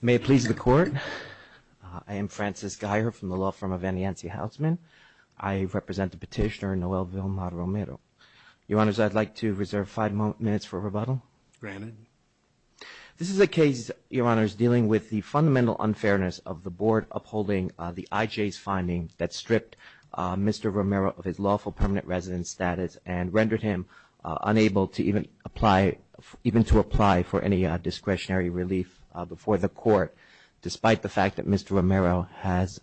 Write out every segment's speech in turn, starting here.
May it please the Court, I am Francis Geyer from the law firm of Anne Yancey Housman. I represent the petitioner Noel Vilma Romero. Your Honors, I'd like to reserve five minutes for rebuttal. Granted. This is a case, Your Honors, dealing with the fundamental unfairness of the Board upholding the IJ's findings that stripped Mr. Romero of his lawful permanent resident status and rendered him unable to even apply for any discretionary relief before the Court, despite the fact that Mr. Romero has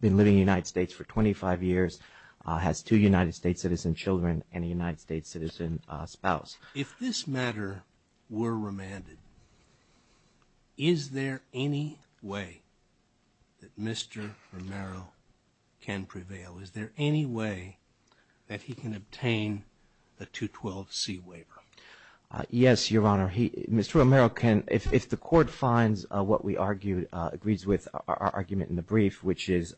been living in the United States for 25 years, has two United States citizen children and a United States citizen spouse. If this matter were remanded, is there any way that Mr. Romero can prevail? Is there any way that he can obtain a 212C waiver? Yes, Your Honor. Mr. Romero can, if the Court finds what we argued, agrees with our argument in the brief, which is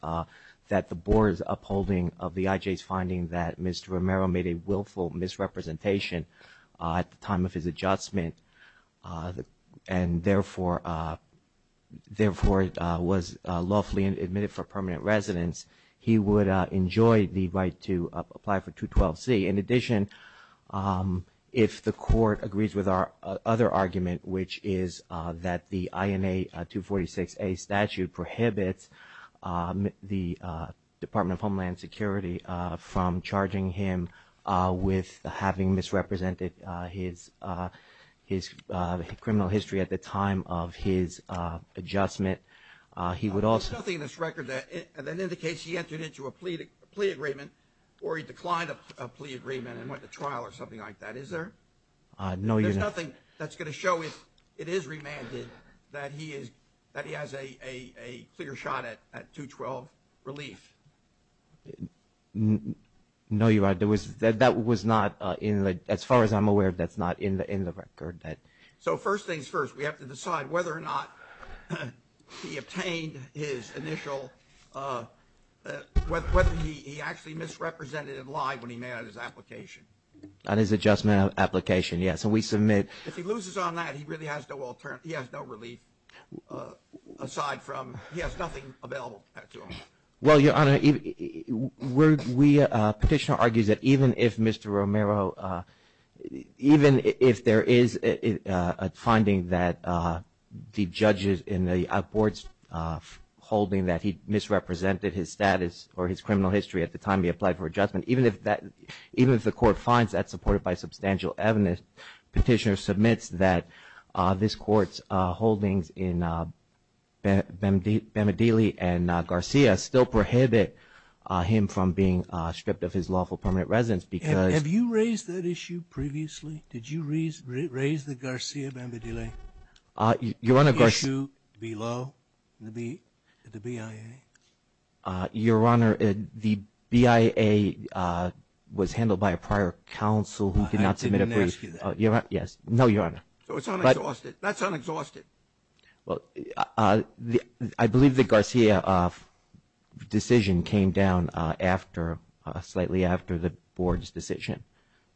that the Board's upholding of the IJ's finding that Mr. Romero made a willful misrepresentation at the time of his adjustment and therefore was lawfully admitted for permanent residence, he would enjoy the right to apply for 212C. In addition, if the Court agrees with our other argument, which is that the INA 246A statute prohibits the Department of Homeland Security from charging him with having misrepresented his criminal history at the time of his adjustment, There's nothing in this record that indicates he entered into a plea agreement or he declined a plea agreement and went to trial or something like that, is there? No, Your Honor. There's nothing that's going to show, if it is remanded, that he has a clear shot at 212 relief? No, Your Honor. That was not, as far as I'm aware, that's not in the record. So first things first, we have to decide whether or not he obtained his initial, whether he actually misrepresented it live when he made his application. On his adjustment application, yes. And we submit. If he loses on that, he really has no relief, aside from he has nothing available to him. Well, Your Honor, we petitioner argues that even if Mr. Romero, even if there is a finding that the judges in the outboards holding that he misrepresented his status or his criminal history at the time he applied for adjustment, even if the Court finds that supported by substantial evidence, petitioner submits that this Court's holdings in Bamadili and Garcia still prohibit him from being stripped of his lawful permanent residence because Have you raised that issue previously? Did you raise the Garcia-Bamadili issue below the BIA? Your Honor, the BIA was handled by a prior counsel who did not submit a brief. Yes. No, Your Honor. So it's unexhausted. That's unexhausted. Well, I believe the Garcia decision came down after, slightly after the Board's decision.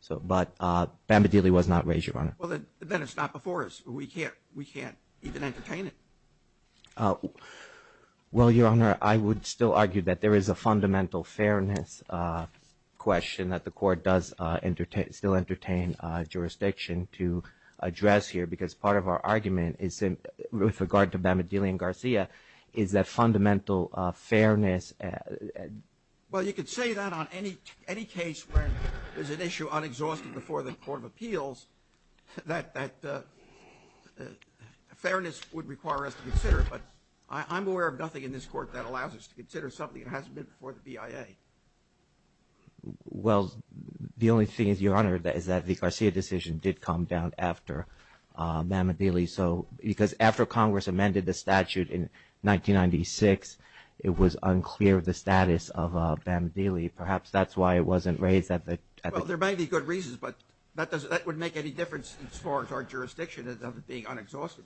But Bamadili was not raised, Your Honor. Well, then it's not before us. We can't even entertain it. Well, Your Honor, I would still argue that there is a fundamental fairness question that the Court does still entertain jurisdiction to address here because part of our argument is, with regard to Bamadili and Garcia, is that fundamental fairness. Well, you could say that on any case where there's an issue unexhausted before the Court of Appeals, that fairness would require us to consider it. But I'm aware of nothing in this Court that allows us to consider something that hasn't been before the BIA. Well, the only thing is, Your Honor, is that the Garcia decision did come down after Bamadili. So because after Congress amended the statute in 1996, it was unclear the status of Bamadili. Perhaps that's why it wasn't raised at the time. Well, there may be good reasons, but that would make any difference as far as our jurisdiction of it being unexhausted.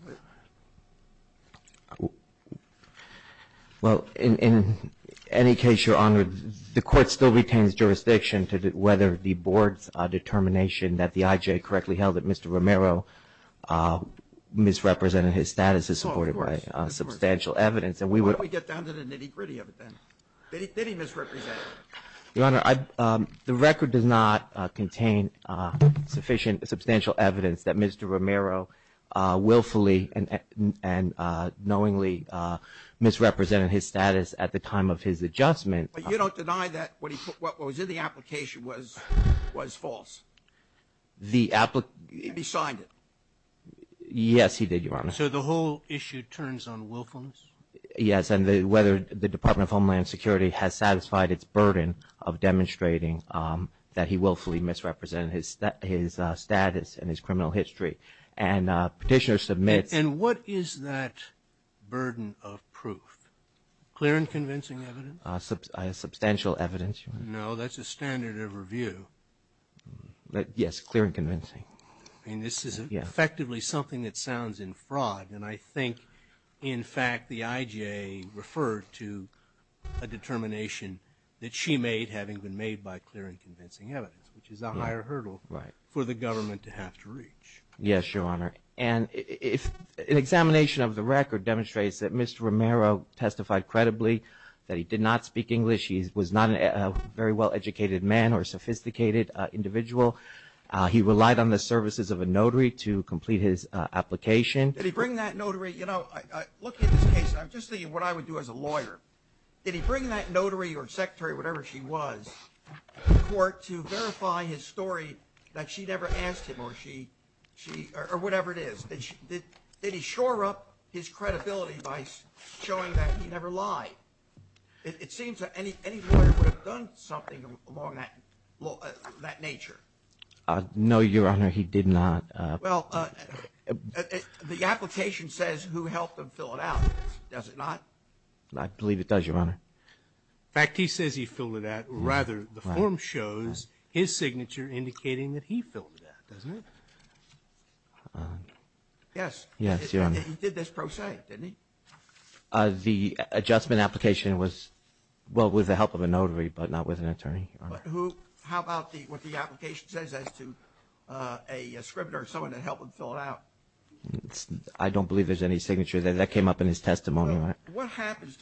Well, in any case, Your Honor, the Court still retains jurisdiction to whether the Board's determination that the IJ correctly held that Mr. Romero misrepresented his status is supported by substantial evidence. And we would — Why don't we get down to the nitty-gritty of it then? Did he misrepresent it? Your Honor, the record does not contain sufficient — substantial evidence that Mr. Romero willfully and knowingly misrepresented his status at the time of his adjustment. But you don't deny that what was in the application was false? The — He signed it? Yes, he did, Your Honor. So the whole issue turns on willfulness? Yes, and whether the Department of Homeland Security has satisfied its burden of demonstrating that he willfully misrepresented his status and his criminal history. And Petitioner submits — And what is that burden of proof? Clear and convincing evidence? Substantial evidence, Your Honor. No, that's a standard of review. Yes, clear and convincing. I mean, this is effectively something that sounds in fraud. And I think, in fact, the IJ referred to a determination that she made having been made by clear and convincing evidence, which is a higher hurdle for the government to have to reach. Yes, Your Honor. And an examination of the record demonstrates that Mr. Romero testified credibly that he did not speak English. He was not a very well-educated man or sophisticated individual. He relied on the services of a notary to complete his application. Did he bring that notary — you know, looking at this case, I'm just thinking what I would do as a lawyer. Did he bring that notary or secretary, whatever she was, to court to verify his story that she never asked him or she — or whatever it is? Did he shore up his credibility by showing that he never lied? It seems that any lawyer would have done something along that nature. No, Your Honor, he did not. Well, the application says who helped him fill it out, does it not? I believe it does, Your Honor. In fact, he says he filled it out. Rather, the form shows his signature indicating that he filled it out, doesn't it? Yes. Yes, Your Honor. He did this pro se, didn't he? The adjustment application was — well, with the help of a notary, but not with an attorney, Your Honor. But who — how about what the application says as to a scrivener or someone that helped him fill it out? I don't believe there's any signature there. That came up in his testimony, Your Honor. What happens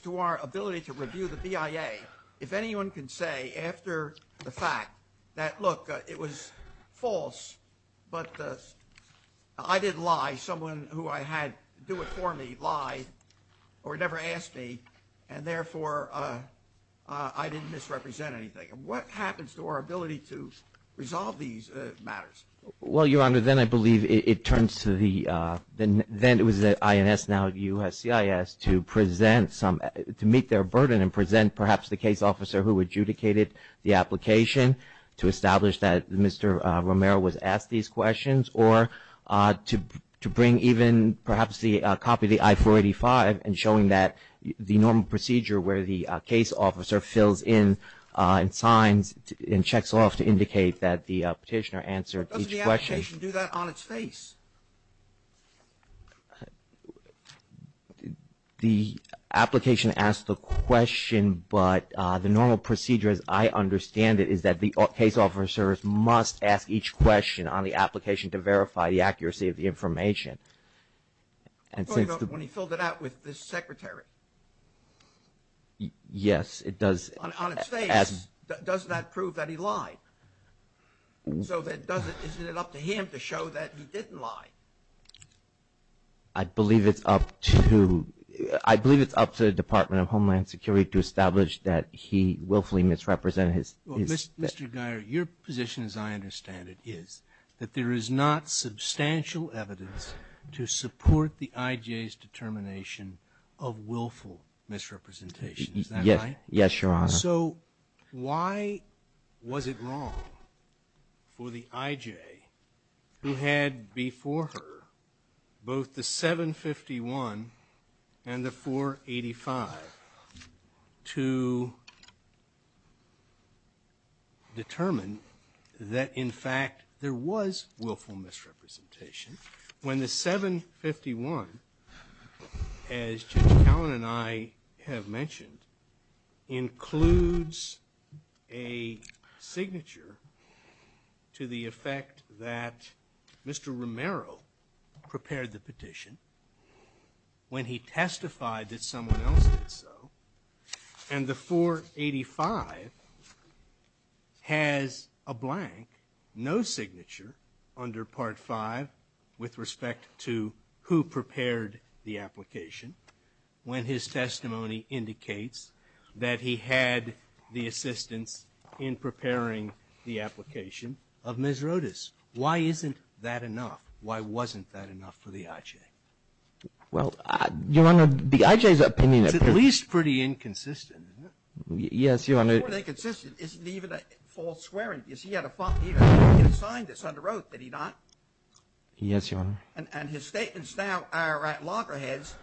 to our ability to review the BIA if anyone can say after the fact that, look, it was false, but I did lie, someone who I had do it for me lied or never asked me, and therefore I didn't misrepresent anything? What happens to our ability to resolve these matters? Well, Your Honor, then I believe it turns to the — then it was the INS, now USCIS, to present some — to meet their burden and present perhaps the case officer who adjudicated the application to establish that Mr. Romero was asked these questions, or to bring even perhaps the copy of the I-485 and showing that the normal procedure where the case officer fills in and signs and checks off to indicate that the petitioner answered each question. But doesn't the application do that on its face? The application asks the question, but the normal procedure, as I understand it, is that the case officers must ask each question on the application to verify the accuracy of the information. I'm talking about when he filled it out with the secretary. Yes, it does. On its face, does that prove that he lied? So is it up to him to show that he didn't lie? I believe it's up to the Department of Homeland Security to establish that he willfully misrepresented his — Mr. Geyer, your position, as I understand it, is that there is not substantial evidence to support the IJ's determination of willful misrepresentation. Is that right? Yes, Your Honor. So why was it wrong for the IJ, who had before her both the 751 and the 485, to determine that, in fact, there was willful misrepresentation, when the 751, as Judge Cowan and I have mentioned, includes a signature to the effect that Mr. Romero prepared the petition when he testified that someone else did so, and the 485 has a blank, no signature, under Part V with respect to who prepared the application when his testimony indicates that he had the assistance in preparing the application of Ms. Rodas? Why isn't that enough? Why wasn't that enough for the IJ? Well, Your Honor, the IJ's opinion — It's at least pretty inconsistent, isn't it? Yes, Your Honor. It's more than inconsistent. Isn't it even a false swearing? He had a sign that said under oath, did he not? Yes, Your Honor. And his statements now are at loggerheads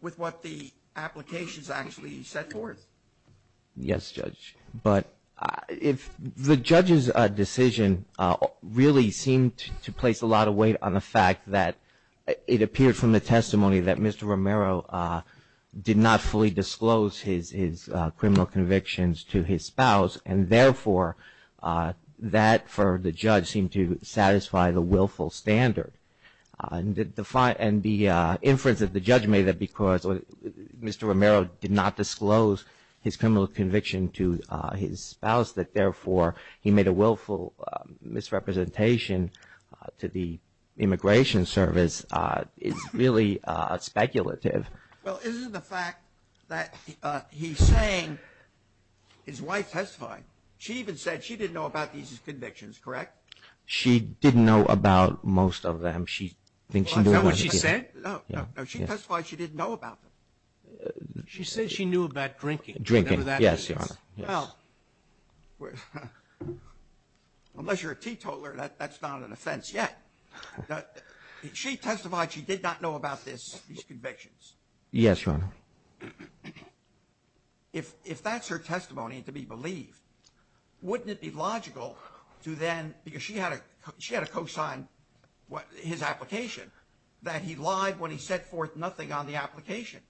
with what the applications actually set forth. Yes, Judge. But the judge's decision really seemed to place a lot of weight on the fact that it appeared from the testimony that Mr. Romero did not fully disclose his criminal convictions to his spouse, and therefore that, for the judge, seemed to satisfy the willful standard. And the inference that the judge made that because Mr. Romero did not disclose his criminal conviction to his spouse, that therefore he made a willful misrepresentation to the Immigration Service is really speculative. Well, isn't the fact that he's saying his wife testified, she even said she didn't know about these convictions, correct? She didn't know about most of them. Is that what she said? No. She testified she didn't know about them. She said she knew about drinking. Drinking. Yes, Your Honor. Well, unless you're a teetotaler, that's not an offense yet. She testified she did not know about these convictions. Yes, Your Honor. If that's her testimony to be believed, wouldn't it be logical to then, because she had to co-sign his application, that he lied when he set forth nothing on the application?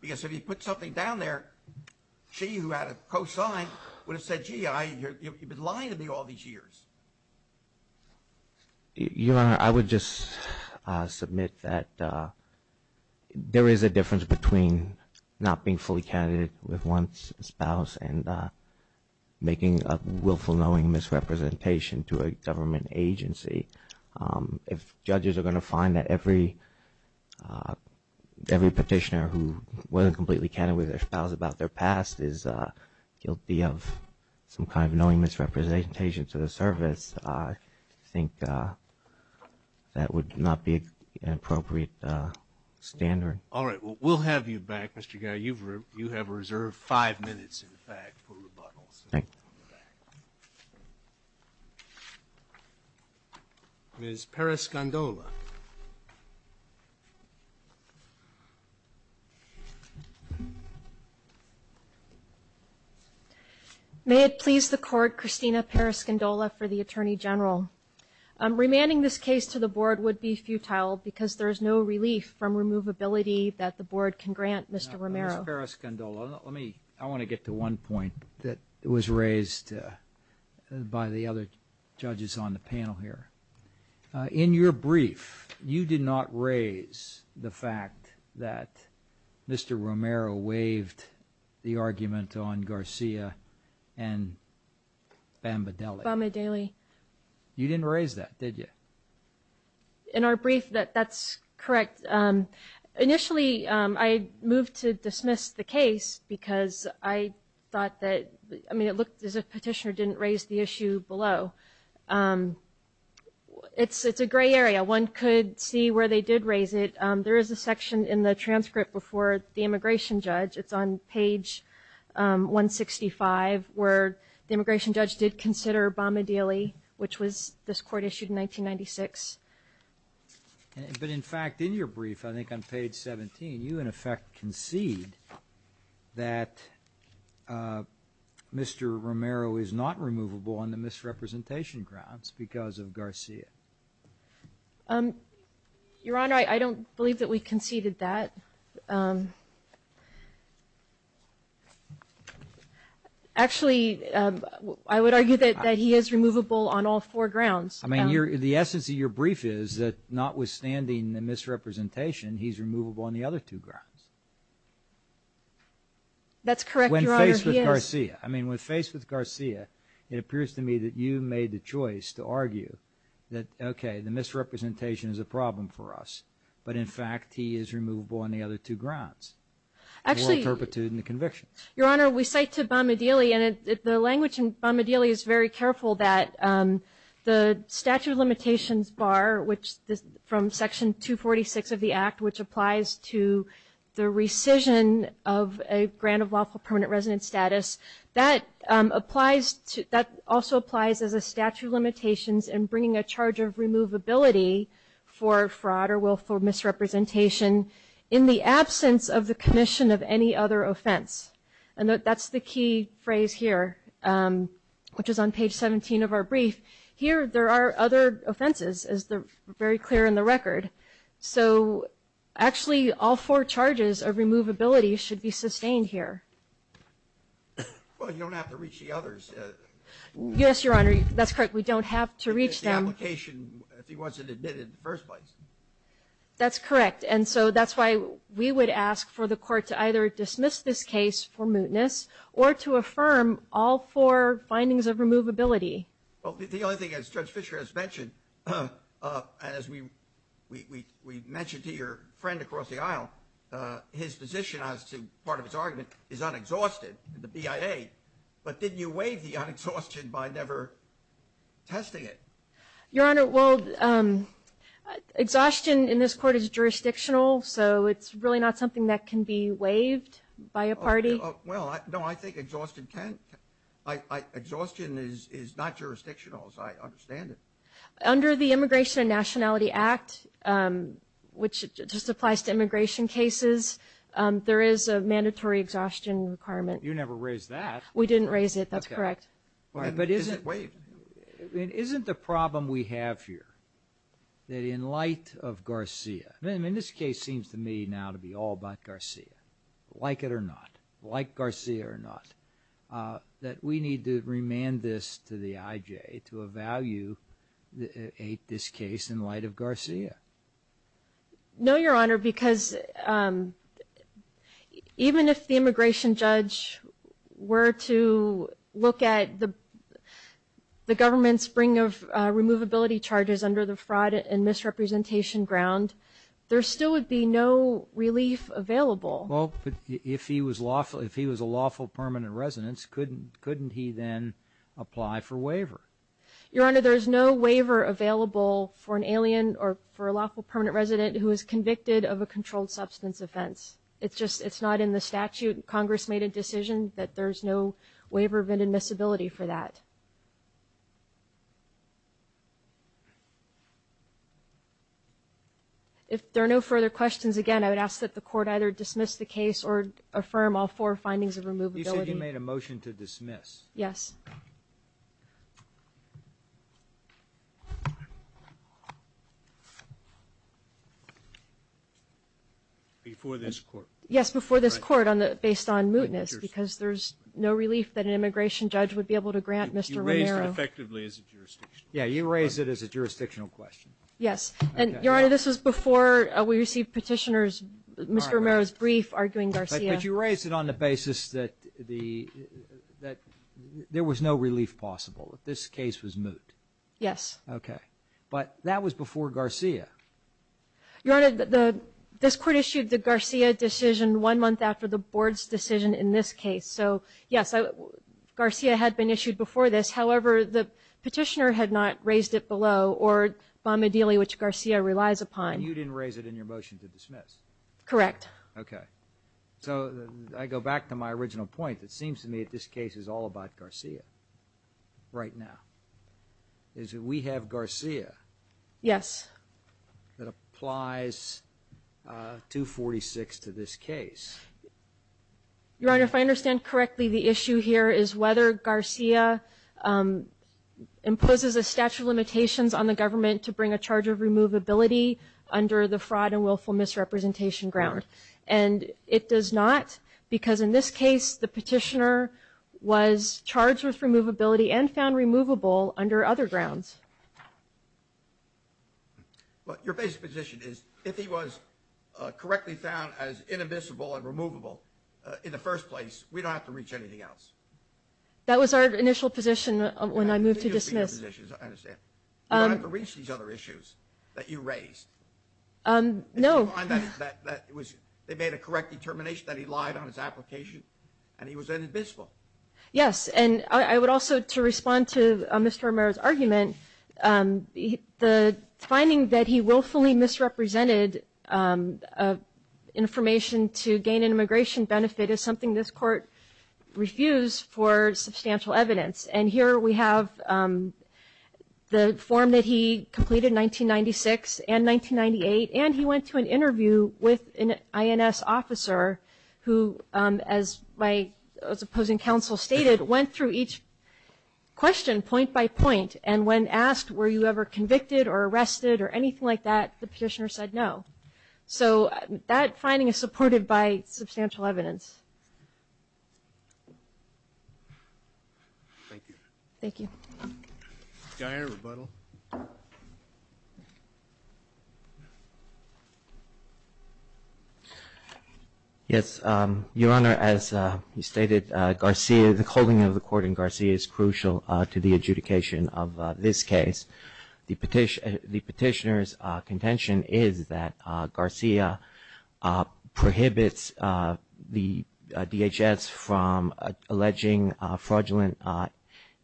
Because if he put something down there, she, who had to co-sign, would have said, gee, you've been lying to me all these years. Your Honor, I would just submit that there is a difference between not being fully candidate with one's spouse and making a willful knowing misrepresentation to a government agency. If judges are going to find that every petitioner who wasn't completely candid with their spouse about their past is guilty of some kind of knowing misrepresentation to the service, I think that would not be an appropriate standard. All right. We'll have you back, Mr. Guy. You have reserved five minutes, in fact, for rebuttals. Thank you. Ms. Parascandola. May it please the Court, Christina Parascandola for the Attorney General. Remanding this case to the Board would be futile because there is no relief from removability that the Board can grant, Mr. Romero. Ms. Parascandola, let me, I want to get to one point that was raised. By the other judges on the panel here. In your brief, you did not raise the fact that Mr. Romero waived the argument on Garcia and Bambadeli. Bambadeli. You didn't raise that, did you? In our brief, that's correct. Initially, I moved to dismiss the case because I thought that, I mean, it looked as if Petitioner didn't raise the issue below. It's a gray area. One could see where they did raise it. There is a section in the transcript before the immigration judge. It's on page 165, where the immigration judge did consider Bambadeli, which was this Court issued in 1996. But, in fact, in your brief, I think on page 17, you, in effect, concede that Mr. Romero is not removable on the misrepresentation grounds because of Garcia. Your Honor, I don't believe that we conceded that. Actually, I would argue that he is removable on all four grounds. I mean, the essence of your brief is that, notwithstanding the misrepresentation, he's removable on the other two grounds. That's correct, Your Honor. When faced with Garcia. I mean, when faced with Garcia, it appears to me that you made the choice to argue that, okay, the misrepresentation is a problem for us. But, in fact, he is removable on the other two grounds. The world turpitude and the conviction. Your Honor, we cite to Bambadeli, and the language in Bambadeli is very careful, that the statute of limitations bar, which is from section 246 of the act, which applies to the rescission of a grant of lawful permanent residence status. That also applies as a statute of limitations in bringing a charge of removability for fraud or willful misrepresentation in the absence of the commission of any other offense. And that's the key phrase here, which is on page 17 of our brief. Here, there are other offenses, as they're very clear in the record. So, actually, all four charges of removability should be sustained here. Well, you don't have to reach the others. Yes, Your Honor. That's correct. We don't have to reach them. The application, if he wasn't admitted in the first place. That's correct. And so that's why we would ask for the court to either dismiss this case for mootness or to affirm all four findings of removability. Well, the only thing, as Judge Fischer has mentioned, and as we mentioned to your friend across the aisle, his position as to part of his argument is unexhausted, the BIA. But didn't you waive the unexhausted by never testing it? Your Honor, well, exhaustion in this court is jurisdictional, so it's really not something that can be waived by a party. Well, no, I think exhaustion is not jurisdictional, as I understand it. Under the Immigration and Nationality Act, which just applies to immigration cases, there is a mandatory exhaustion requirement. You never raised that. We didn't raise it. That's correct. But isn't it waived? Isn't the problem we have here that in light of Garcia, and this case seems to me now to be all about Garcia, like it or not, like Garcia or not, that we need to remand this to the IJ to evaluate this case in light of Garcia? No, Your Honor, because even if the immigration judge were to look at the government's spring of removability charges under the fraud and misrepresentation ground, there still would be no relief available. Well, if he was a lawful permanent resident, couldn't he then apply for waiver? Your Honor, there is no waiver available for an alien or for a lawful permanent resident who is convicted of a controlled substance offense. It's just it's not in the statute. Congress made a decision that there's no waiver of inadmissibility for that. If there are no further questions, again, I would ask that the Court either dismiss the case or affirm all four findings of removability. You said you made a motion to dismiss. Yes. Before this Court? Yes, before this Court, based on mootness, because there's no relief that an immigration judge would be able to grant Mr. Romero. You raised it effectively as a jurisdictional question. Yeah, you raised it as a jurisdictional question. Yes, and, Your Honor, this was before we received Petitioner's, Mr. Romero's brief arguing Garcia. But you raised it on the basis that there was no relief possible, that this case was moot. Yes. Okay. But that was before Garcia. Your Honor, this Court issued the Garcia decision one month after the Board's decision in this case. So, yes, Garcia had been issued before this. However, the Petitioner had not raised it below or Bamadili, which Garcia relies upon. And you didn't raise it in your motion to dismiss? Correct. Okay. So I go back to my original point. It seems to me that this case is all about Garcia right now, is that we have Garcia. Yes. That applies 246 to this case. Your Honor, if I understand correctly, the issue here is whether Garcia imposes a statute of limitations on the government to bring a charge of removability under the fraud and willful misrepresentation ground. And it does not because, in this case, the Petitioner was charged with removability and found removable under other grounds. Well, your basic position is if he was correctly found as invisible and removable in the first place, we don't have to reach anything else. That was our initial position when I moved to dismiss. You don't have to reach these other issues that you raised. No. They made a correct determination that he lied on his application and he was then invisible. Yes. And I would also, to respond to Mr. Romero's argument, the finding that he willfully misrepresented information to gain an immigration benefit is something this Court refused for substantial evidence. And here we have the form that he completed in 1996 and 1998. And he went to an interview with an INS officer who, as my opposing counsel stated, went through each question point by point. And when asked, were you ever convicted or arrested or anything like that, the Petitioner said no. So that finding is supported by substantial evidence. Thank you. Thank you. Do I have a rebuttal? Yes. Your Honor, as you stated, Garcia, the holding of the court in Garcia is crucial to the adjudication of this case. The Petitioner's contention is that Garcia prohibits the DHS from alleging fraudulent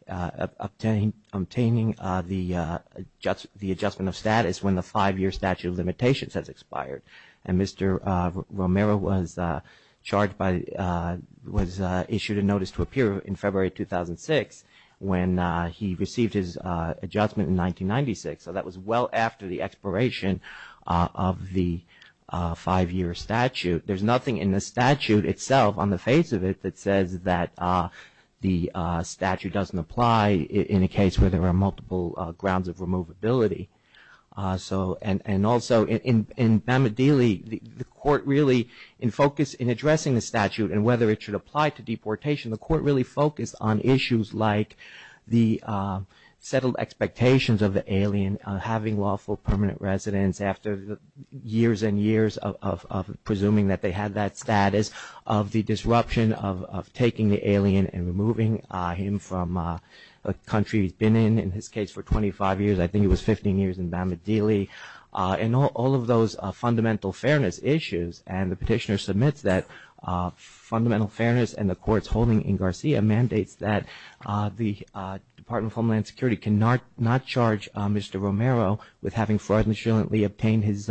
obtaining the adjustment of status when the five-year statute of limitations has expired. And Mr. Romero was issued a notice to appear in February 2006 when he received his adjustment notice in 1996. So that was well after the expiration of the five-year statute. There's nothing in the statute itself on the face of it that says that the statute doesn't apply in a case where there are multiple grounds of removability. And also in Bamadili, the Court really in focus in addressing the statute and whether it should apply to deportation, the Court really focused on issues like the settled expectations of the alien, having lawful permanent residence after years and years of presuming that they had that status, of the disruption of taking the alien and removing him from a country he's been in, in his case, for 25 years. I think it was 15 years in Bamadili. And all of those fundamental fairness issues. And the petitioner submits that fundamental fairness and the Court's holding in Garcia mandates that the Department of Homeland Security cannot charge Mr. Romero with having fraudulently obtained his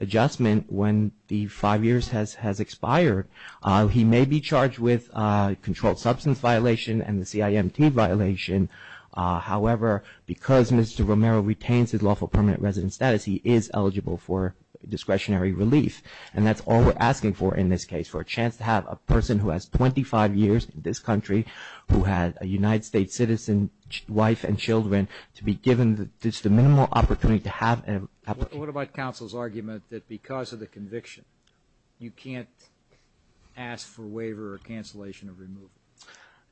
adjustment when the five years has expired. He may be charged with controlled substance violation and the CIMT violation. However, because Mr. Romero retains his lawful permanent residence status, he is eligible for discretionary relief. And that's all we're asking for in this case, for a chance to have a person who has 25 years in this country, who had a United States citizen wife and children, to be given just a minimal opportunity to have a... What about counsel's argument that because of the conviction, you can't ask for waiver or cancellation of removal?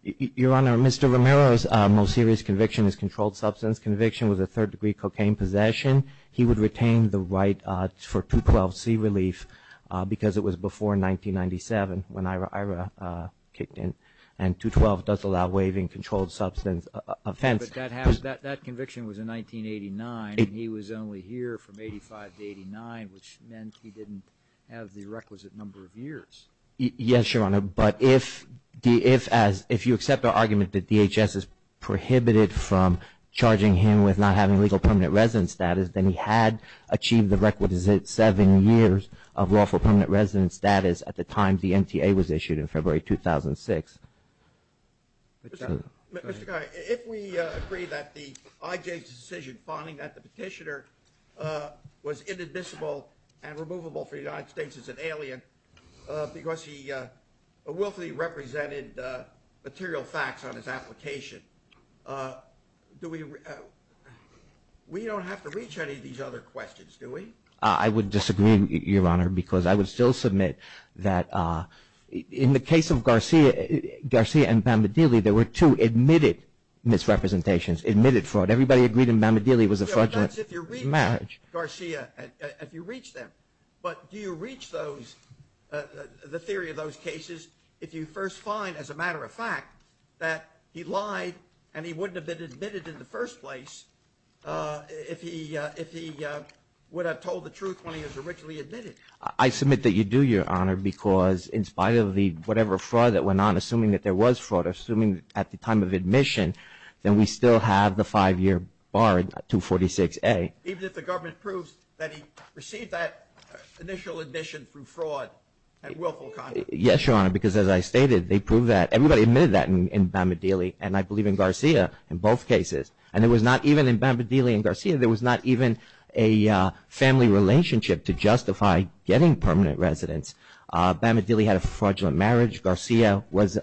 Your Honor, Mr. Romero's most serious conviction is controlled substance conviction with a third degree cocaine possession. He would retain the right for 212C relief because it was before 1997 when Ira kicked in. And 212 does allow waiving controlled substance offense. But that conviction was in 1989, and he was only here from 85 to 89, which meant he didn't have the requisite number of years. Yes, Your Honor, but if you accept our argument that DHS is prohibited from charging him with not having legal permanent residence status, then he had achieved the requisite seven years of lawful permanent residence status at the time the NTA was issued in February 2006. Mr. Connolly, if we agree that the IJ's decision finding that the petitioner was inadmissible and removable for the United States as an alien, because he willfully represented material facts on his application, do we... We don't have to reach any of these other questions, do we? I would disagree, Your Honor, because I would still submit that in the case of Garcia and Bamadili, there were two admitted misrepresentations, admitted fraud. Everybody agreed in Bamadili it was a fraudulent marriage. Yeah, but that's if you reach Garcia, if you reach them. But do you reach the theory of those cases if you first find, as a matter of fact, that he lied and he wouldn't have been admitted in the first place if he would have told the truth when he was originally admitted? I submit that you do, Your Honor, because in spite of whatever fraud that went on, assuming that there was fraud, assuming at the time of admission, then we still have the five-year bar at 246A. Even if the government proves that he received that initial admission through fraud and willful conduct? Yes, Your Honor, because as I stated, they proved that. Everybody admitted that in Bamadili, and I believe in Garcia in both cases. And there was not even in Bamadili and Garcia, there was not even a family relationship to justify getting permanent residence. Bamadili had a fraudulent marriage. Garcia was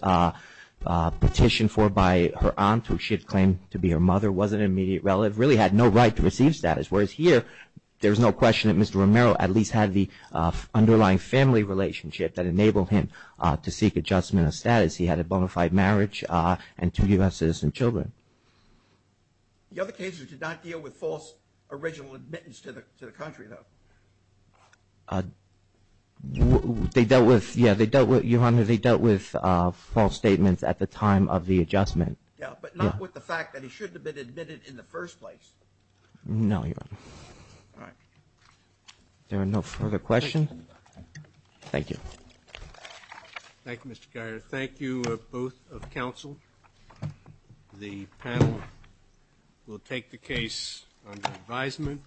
petitioned for by her aunt, who she had claimed to be her mother, wasn't an immediate relative, really had no right to receive status. Whereas here, there's no question that Mr. Romero at least had the underlying family relationship that enabled him to seek adjustment of status. He had a bona fide marriage and two U.S. citizen children. The other cases did not deal with false original admittance to the country, though? They dealt with, yeah, they dealt with, Your Honor, they dealt with false statements at the time of the adjustment. Yeah, but not with the fact that he shouldn't have been admitted in the first place. No, Your Honor. All right. There are no further questions? Thank you. Thank you, Mr. Guyer. Thank you, both of counsel, the panel. We'll take the case under advisement.